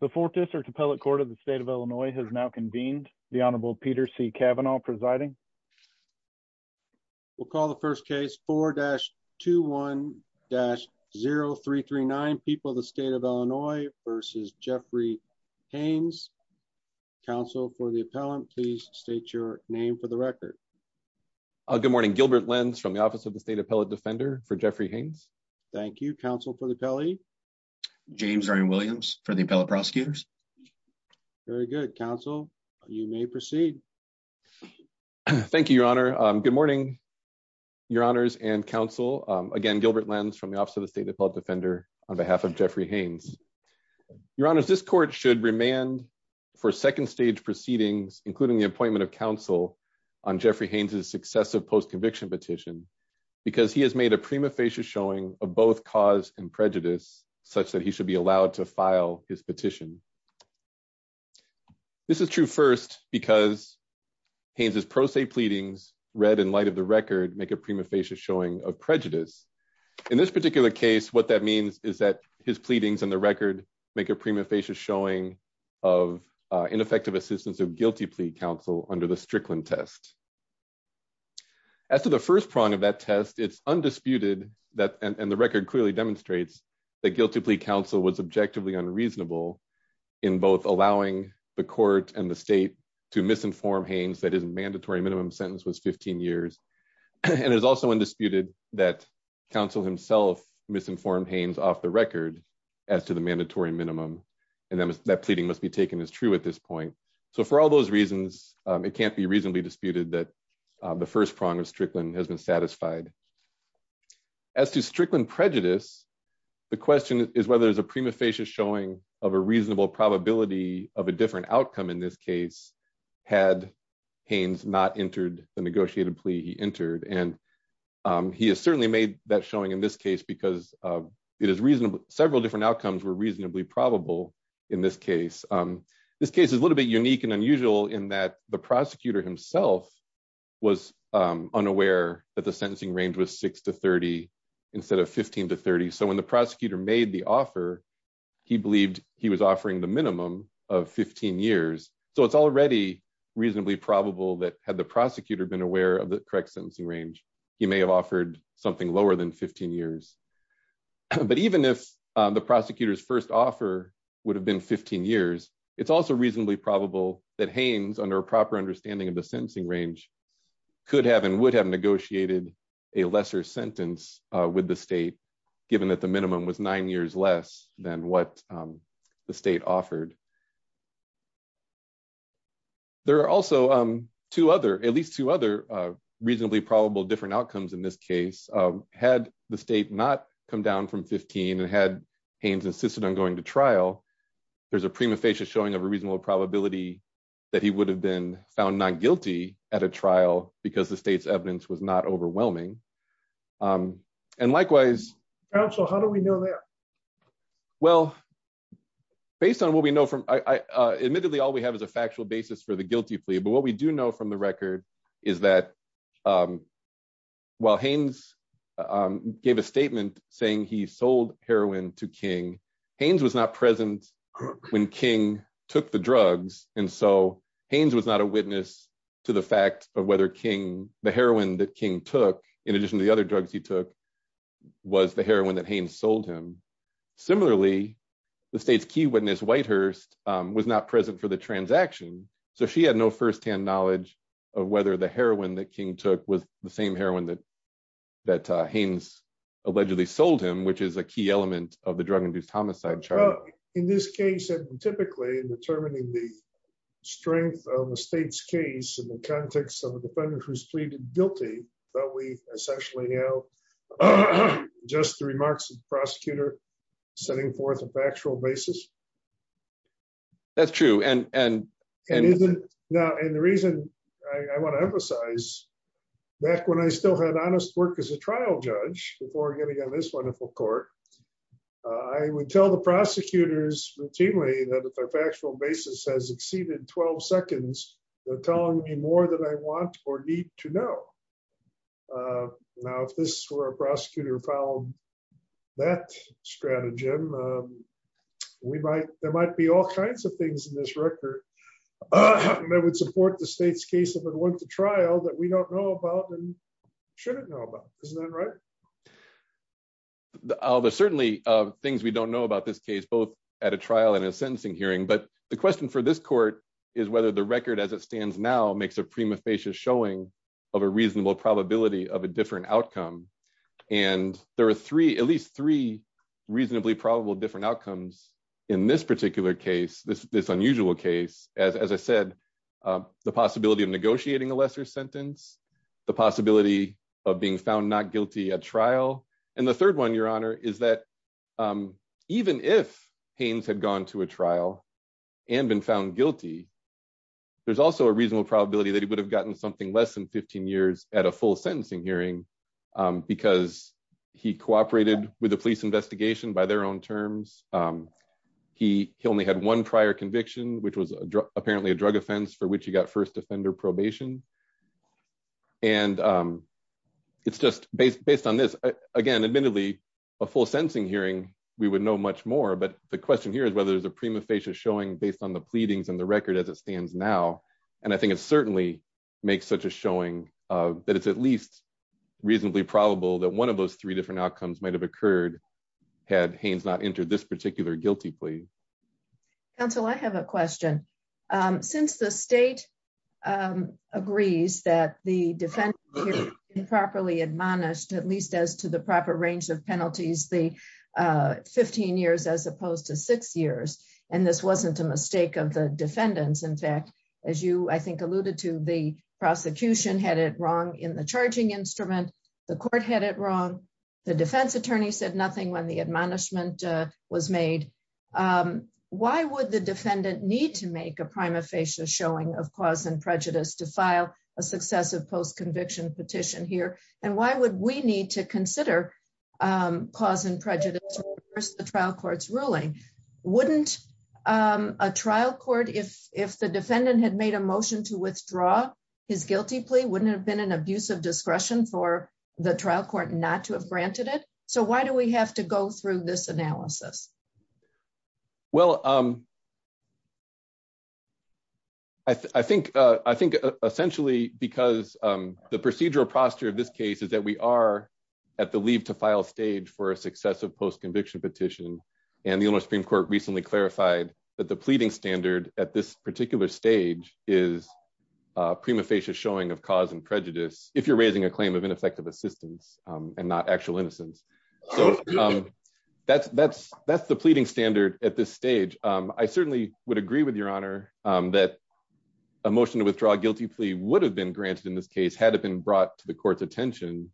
The Fourth District Appellate Court of the State of Illinois has now convened. The Honorable Peter C. Kavanaugh presiding. We'll call the first case. 4-21-0339. People of the State of Illinois v. Jeffrey Haynes. Counsel for the appellant, please state your name for the record. Good morning. Gilbert Lenz from the Office of the State Appellate Defender for Jeffrey Haynes. Thank you. Counsel for the appellee. James Ryan Williams for the appellate prosecutors. Very good. Counsel, you may proceed. Thank you, Your Honor. Good morning, Your Honors and Counsel. Again, Gilbert Lenz from the Office of the State Appellate Defender on behalf of Jeffrey Haynes. Your Honors, this court should remand for second stage proceedings, including the appointment of counsel on Jeffrey Haynes' successive post-conviction petition, because he has made a prima facie showing of both cause and prejudice, such that he should be allowed to file his petition. This is true first because Haynes' pro se pleadings, read in light of the record, make a prima facie showing of prejudice. In this particular case, what that means is that his pleadings in the record make a prima facie showing of ineffective assistance of guilty plea counsel under the Strickland test. As to the first prong of that test, it's undisputed, and the record clearly demonstrates, that guilty plea counsel was objectively unreasonable in both allowing the court and the state to misinform Haynes that his mandatory minimum sentence was 15 years, and it is also undisputed that counsel himself misinformed Haynes off the record as to the mandatory minimum, and that pleading must be taken as true at this point. So for all those reasons, it can't be reasonably disputed that the first prong of Strickland has been satisfied. As to Strickland prejudice, the question is whether there's a prima facie showing of a reasonable probability of a different outcome in this case, had Haynes not entered the negotiated plea he entered, and he has certainly made that showing in this case, because several different outcomes were reasonably probable in this case. This case is a little bit unique and unusual in that the prosecutor himself was unaware that the sentencing range was 6 to 30 instead of 15 to 30, so when the prosecutor made the offer, he believed he was offering the minimum of 15 years, so it's already reasonably probable that had the prosecutor been aware of the correct sentencing range, he may have offered something lower than 15 years. But even if the prosecutor's first offer would have been 15 years, it's also reasonably probable that Haynes, under a proper understanding of the sentencing range, could have and would have negotiated a lesser sentence with the state, given that the minimum was nine years less than what the state offered. There are also two other, at least two other, reasonably probable different outcomes in this case. Had the state not come down from 15 and had Haynes insisted on going to trial, there's a prima facie showing of a reasonable probability that he would have been found not guilty at a trial because the state's evidence was not overwhelming. And likewise... Counsel, how do we know that? Well, based on what we know from... Admittedly, all we have is a factual basis for the guilty plea, but what we do know from the record is that while Haynes gave a statement saying he sold heroin to King, Haynes was not present when King took the drugs, and so Haynes was not a witness to the fact of whether the heroin that King took, in addition to the other drugs he took, was the heroin that Haynes sold him. Similarly, the state's key witness, Whitehurst, was not present for the transaction, so she had no firsthand knowledge of whether the heroin that King took was the same heroin that Haynes allegedly sold him, which is a key element of the drug-induced homicide charge. Well, in this case, typically in determining the strength of the state's case in the context of a defendant who's pleaded guilty, we essentially know just the remarks of the prosecutor setting forth a factual basis. That's true, and... And the reason I want to emphasize, back when I still had honest work as a trial judge, before getting on this wonderful court, I would tell the prosecutors routinely that if their factual basis has exceeded 12 seconds, they're telling me more than I want or need to know. Now, if this were a prosecutor who followed that stratagem, there might be all kinds of things in this record that would support the state's case if it went to trial that we don't know about and shouldn't know about. Isn't that right? There's certainly things we don't know about this case, both at a trial and a sentencing hearing, but the question for this court is whether the record as it stands now makes a prima facie showing of a reasonable probability of a different outcome. And there are three, at least three, reasonably probable different outcomes in this particular case, this unusual case. As I said, the possibility of negotiating a lesser sentence, the possibility of being found not guilty at trial. And the third one, Your Honor, is that even if Haynes had gone to a trial and been found guilty, there's also a reasonable probability that he would have gotten something less than 15 years at a full sentencing hearing because he cooperated with the police investigation by their own terms. He only had one prior conviction, which was apparently a drug offense for which he got first offender probation. And it's just based on this, again, admittedly, a full sentencing hearing, we would know much more. But the question here is whether there's a prima facie showing based on the pleadings and the record as it stands now. And I think it certainly makes such a showing that it's at least reasonably probable that one of those three different outcomes might have occurred had Haynes not entered this particular guilty plea. Counsel, I have a question. Since the state agrees that the defendant was improperly admonished, at least as to the proper range of penalties, the 15 years as opposed to six years. And this wasn't a mistake of the defendants. In fact, as you I think alluded to, the prosecution had it wrong in the charging instrument. The court had it wrong. The defense attorney said nothing when the admonishment was made. Why would the defendant need to make a prima facie showing of cause and prejudice to file a successive post conviction petition here? And why would we need to consider cause and prejudice versus the trial court's ruling? Wouldn't a trial court, if the defendant had made a motion to withdraw his guilty plea, wouldn't have been an abuse of discretion for the trial court not to have granted it? So why do we have to go through this analysis? Well, I think, I think, essentially, because the procedural posture of this case is that we are at the leave to file stage for a successive post conviction petition. And the Supreme Court recently clarified that the pleading standard at this particular stage is prima facie showing of cause and prejudice. If you're raising a claim of ineffective assistance and not actual innocence. So that's that's that's the pleading standard at this stage. I certainly would agree with your honor that a motion to withdraw a guilty plea would have been granted in this case had it been brought to the court's attention.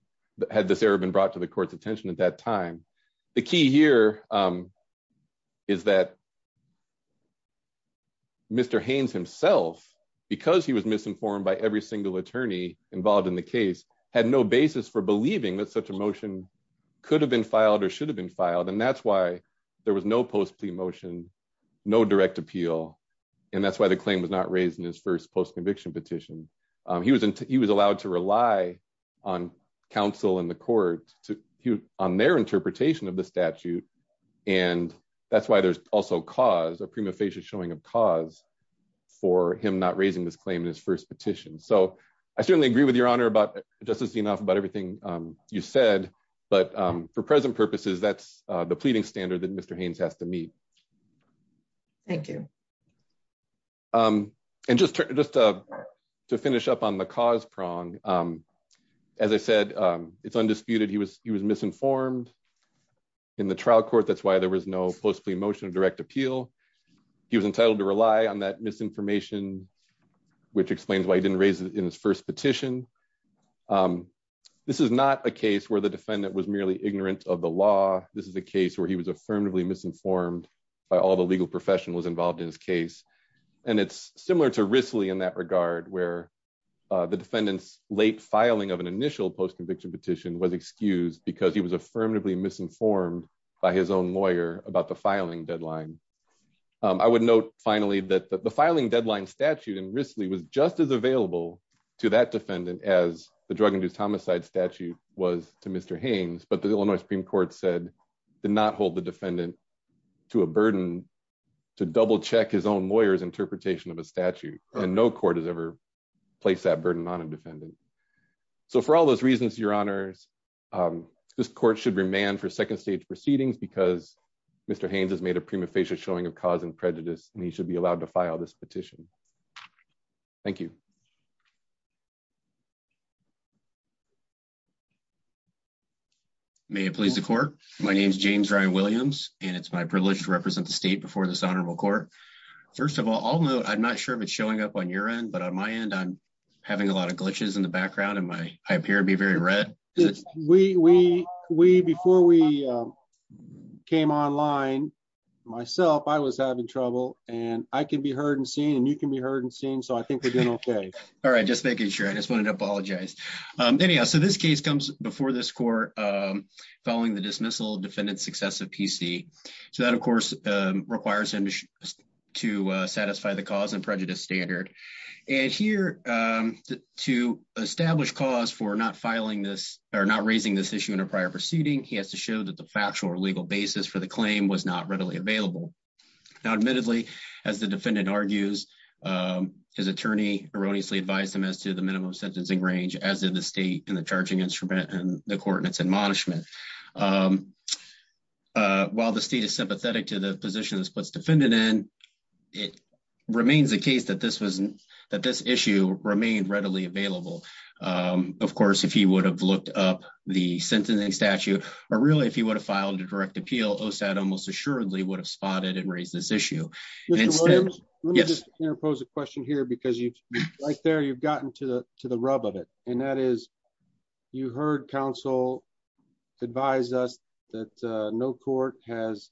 Had this ever been brought to the court's attention at that time. The key here is that Mr. Haynes himself, because he was misinformed by every single attorney involved in the case, had no basis for believing that such a motion could have been filed or should have been filed and that's why there was no post plea motion, no direct appeal. And that's why the claim was not raised in his first post conviction petition. He was, he was allowed to rely on counsel in the court to on their interpretation of the statute. And that's why there's also cause a prima facie showing of cause for him not raising this claim in his first petition so I certainly agree with your honor about justice enough about everything you said, but for present purposes that's the pleading standard that Mr. Haynes has to meet. Thank you. And just to just to finish up on the cause prong. As I said, it's undisputed he was he was misinformed in the trial court that's why there was no post the motion of direct appeal. He was entitled to rely on that misinformation, which explains why he didn't raise it in his first petition. This is not a case where the defendant was merely ignorant of the law, this is a case where he was affirmatively misinformed by all the legal professionals involved in this case. And it's similar to Risley in that regard where the defendants late filing of an initial post conviction petition was excused because he was affirmatively misinformed by his own lawyer about the filing deadline. I would note, finally, that the filing deadline statute and Risley was just as available to that defendant as the drug and do homicide statute was to Mr Haynes but the Illinois Supreme Court said did not hold the defendant to a burden to double check his own lawyers interpretation of a statute, and no court has ever placed that burden on a defendant. So for all those reasons, your honors. This court should remain for second stage proceedings because Mr Haynes has made a prima facie showing of causing prejudice, and he should be allowed to file this petition. Thank you. May it please the court. My name is James Ryan Williams, and it's my privilege to represent the state before this honorable court. First of all, I'll know I'm not sure if it's showing up on your end but on my end I'm having a lot of glitches in the background and my, I appear to be very red. We, we, we before we came online. Myself I was having trouble, and I can be heard and seen and you can be heard and seen so I think we're doing okay. All right, just making sure I just wanted to apologize. Anyhow, so this case comes before this court. Following the dismissal defendant successive PC. So that of course requires him to satisfy the cause and prejudice standard. And here to establish cause for not filing this are not raising this issue in a prior proceeding, he has to show that the factual or legal basis for the claim was not readily available. Now admittedly, as the defendant argues his attorney erroneously advise them as to the minimum sentencing range as in the state and the charging instrument and the coordinates and management. While the state is sympathetic to the position that's what's defended and it remains the case that this wasn't that this issue remained readily available. Of course, if he would have looked up the sentencing statute, or really if he would have filed a direct appeal Oh sad almost assuredly would have spotted and raise this issue. Yes, pose a question here because you like there you've gotten to the, to the rub of it, and that is, you heard counsel advise us that no court has,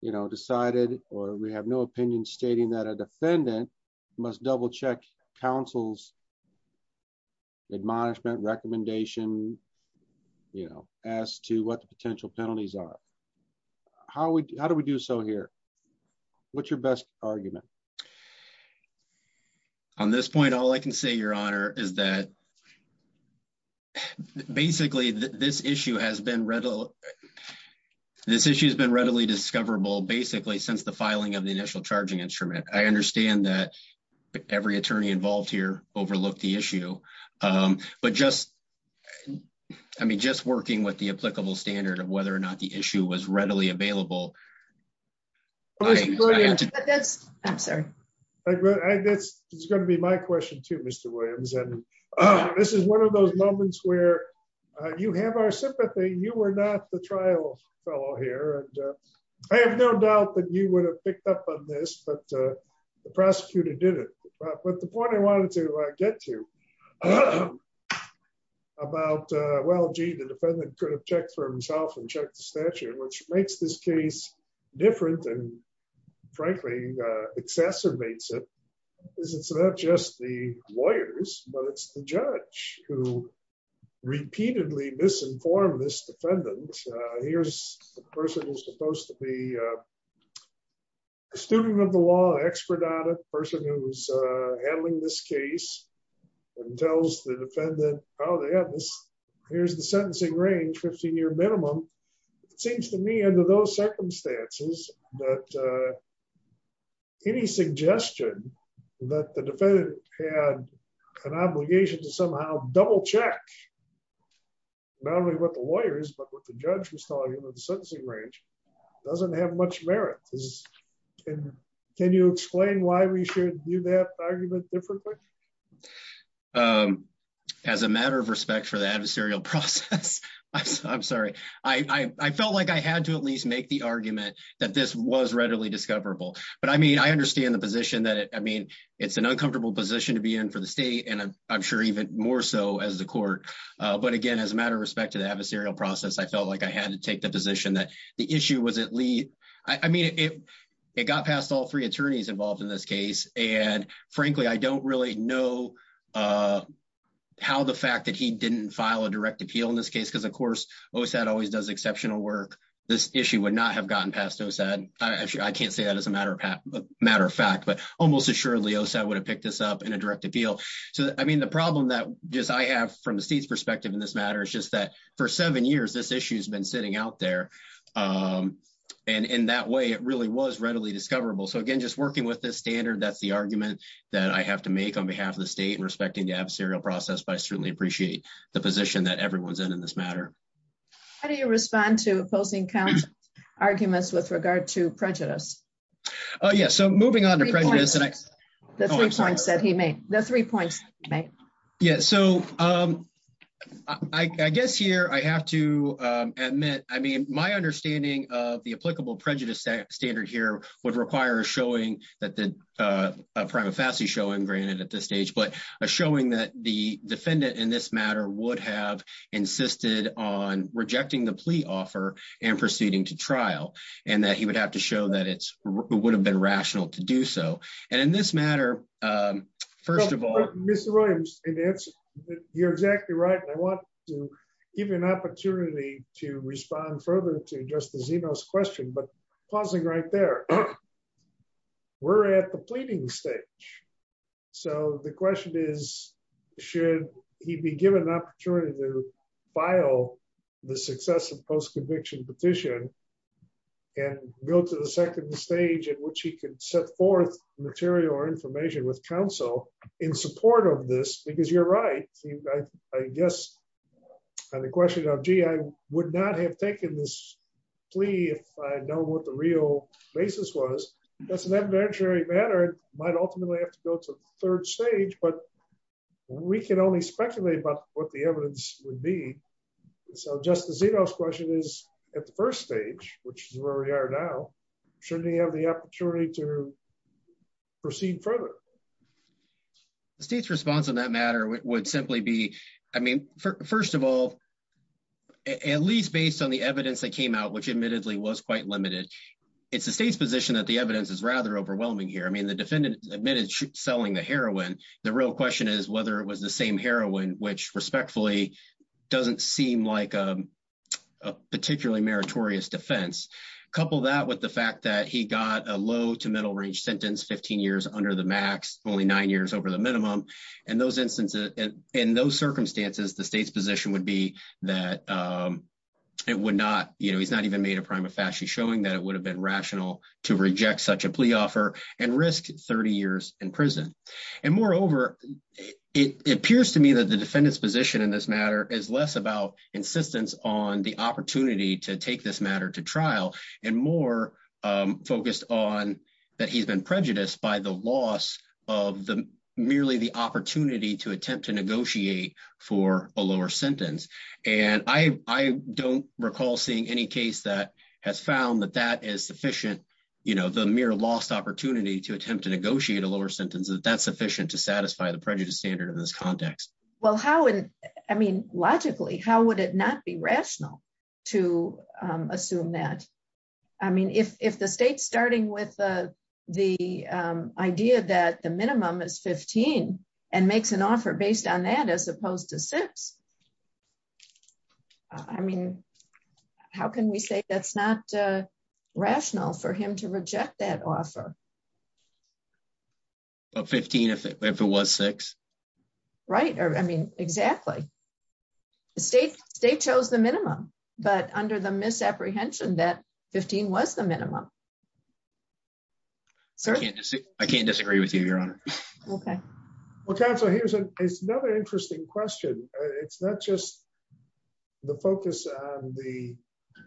you know, decided, or we have no opinion stating that a defendant must double check councils admonishment recommendation. You know, as to what the potential penalties are. How would, how do we do so here. What's your best argument. On this point, all I can say Your Honor, is that, basically, this issue has been rental. This issue has been readily discoverable basically since the filing of the initial charging instrument, I understand that every attorney involved here, overlook the issue. But just, I mean just working with the applicable standard of whether or not the issue was readily available. That's, I'm sorry. I guess it's going to be my question to Mr. Williams and this is one of those moments where you have our sympathy, you were not the trial fellow here and I have no doubt that you would have picked up on this but the prosecutor did it. But the point I wanted to get to about, well gee the defendant could have checked for himself and check the statute which makes this case, different and frankly exacerbates it is it's not just the lawyers, but it's the judge who repeatedly misinformed this defendant. Here's the person who's supposed to be a student of the law expert on a person who's handling this case and tells the defendant, oh yeah, here's the sentencing range 15 year minimum. So, it seems to me under those circumstances, that any suggestion that the defendant had an obligation to somehow double check. Not only with the lawyers but with the judge was talking about the sentencing range doesn't have much merit. Can you explain why we should do that argument differently. As a matter of respect for the adversarial process. I'm sorry, I felt like I had to at least make the argument that this was readily discoverable, but I mean I understand the position that I mean it's an uncomfortable position to be in for the state and I'm But again, as a matter of respect to the adversarial process I felt like I had to take the position that the issue was at least, I mean it, it got past all three attorneys involved in this case, and frankly I don't really know how the fact that he didn't file a direct appeal. So I mean the problem that just I have from the state's perspective in this matter is just that for seven years this issue has been sitting out there. And in that way it really was readily discoverable so again just working with this standard that's the argument that I have to make on behalf of the state and respecting the adversarial process but I certainly appreciate the position that everyone's in in this matter. How do you respond to opposing count arguments with regard to prejudice. Oh yeah so moving on to prejudice and I said he made the three points. Right. Yeah. So, um, I guess here I have to admit, I mean, my understanding of the applicable prejudice standard here would require showing that the prima facie showing granted at this stage but a showing that the defendant in this matter would have insisted on rejecting the plea offer and proceeding to trial, and that he would have to show that it's would have been rational to do so. And in this matter. First of all, Mr Williams, and it's, you're exactly right. I want to give you an opportunity to respond further to just as he knows question but pausing right there. We're at the pleading stage. So the question is, should he be given an opportunity to file the success of post conviction petition and go to the second stage in which he can set forth material or information with counsel in support of this because you're right. I guess the question of GI would not have taken this plea if I know what the real basis was, that's an evidentiary matter might ultimately have to go to the third stage but we can only speculate about what the evidence would be. So just as it is question is, at the first stage, which is where we are now. Should we have the opportunity to proceed further. The state's response on that matter would simply be, I mean, first of all, at least based on the evidence that came out which admittedly was quite limited. It's the state's position that the evidence is rather overwhelming here I mean the defendant admitted selling the heroin. The real question is whether it was the same heroin which respectfully doesn't seem like a particularly meritorious defense couple that with the fact that he got a low to middle range sentence 15 years under the max only nine years over the minimum. And those instances. In those circumstances, the state's position would be that it would not, you know, he's not even made a prima facie showing that it would have been rational to reject such a plea offer and risk 30 years in prison. And moreover, it appears to me that the defendants position in this matter is less about insistence on the opportunity to take this matter to trial, and more focused on that he's been prejudiced by the loss of the merely the opportunity to attempt to negotiate for a lower sentence, and I don't recall seeing any case that has found that that is sufficient. You know the mere lost opportunity to attempt to negotiate a lower sentence that that's sufficient to satisfy the prejudice standard of this context. Well how and I mean, logically, how would it not be rational to assume that I mean if the state starting with the idea that the minimum is 15 and makes an offer based on that as opposed to six. I mean, how can we say that's not rational for him to reject that offer. 15 if it was six. Right. I mean, exactly. State, state shows the minimum, but under the misapprehension that 15 was the minimum. So I can't disagree with you, Your Honor. Okay. Okay, so here's another interesting question. It's not just the focus on the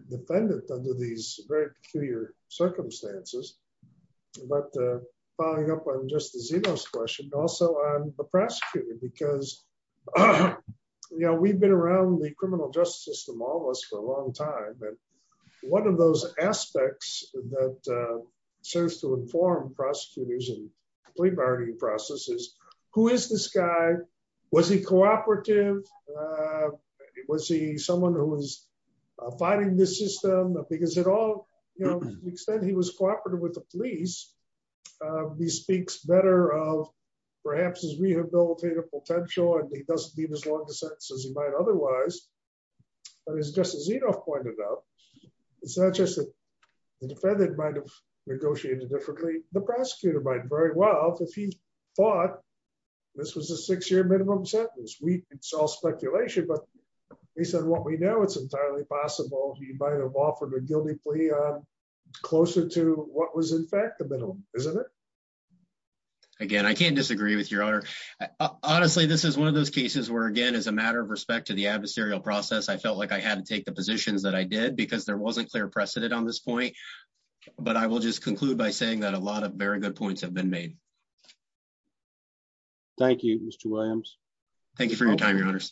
defendant under these very peculiar circumstances. But following up on just the Zeno's question also on the prosecutor because, you know, we've been around the criminal justice system almost for a long time and one of those aspects that serves to inform prosecutors and plea bargaining processes. Who is this guy. Was he cooperative. Was he someone who was fighting this system, because it all, you know, the extent he was cooperative with the police. He speaks better of perhaps as we have built a potential and he doesn't leave as long as he might otherwise. But as Justice Zeno pointed out, it's not just the defendant might have negotiated differently, the prosecutor might very well if he thought this was a six year minimum sentence. We saw speculation but he said what we know it's entirely possible he might have offered a guilty plea closer to what was in fact the middle, isn't it. Again, I can't disagree with your honor. Honestly, this is one of those cases where again as a matter of respect to the adversarial process I felt like I had to take the positions that I did because there wasn't clear precedent on this point, but I will just conclude by saying that a lot of very good points have been made. Thank you, Mr Williams. Thank you for your time, your honors.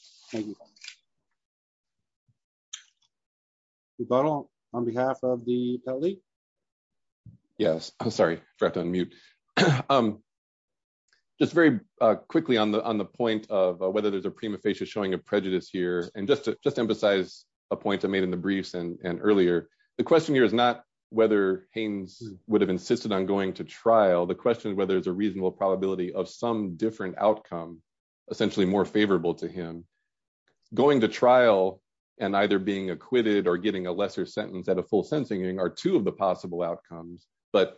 On behalf of the elite. Yes, I'm sorry, I'm mute. Just very quickly on the on the point of whether there's a prima facie showing a prejudice here and just to just emphasize a point I made in the briefs and earlier. The question here is not whether Haynes would have insisted on going to trial the question whether there's a reasonable probability of some different outcome, essentially more favorable to him going to trial, and either being acquitted or getting a lesser sentence at a full sentencing are two of the possible outcomes, but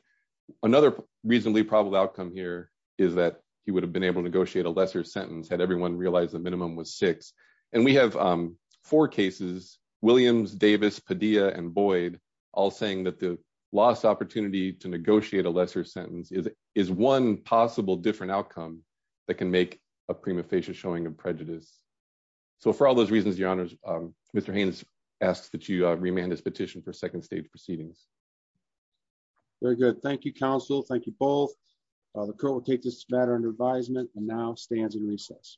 another reasonably probable outcome here is that he would have been able to negotiate a lesser sentence had everyone realized the minimum was six, and we have four cases, Williams Davis Padilla and Boyd, all saying that the last opportunity to negotiate a lesser sentence is, is one possible different outcome that can make a prima facie showing a prejudice. So for all those reasons, your honors, Mr Haynes asked that you remand this petition for second stage proceedings. Very good. Thank you, counsel. Thank you both. The court will take this matter under advisement and now stands in recess.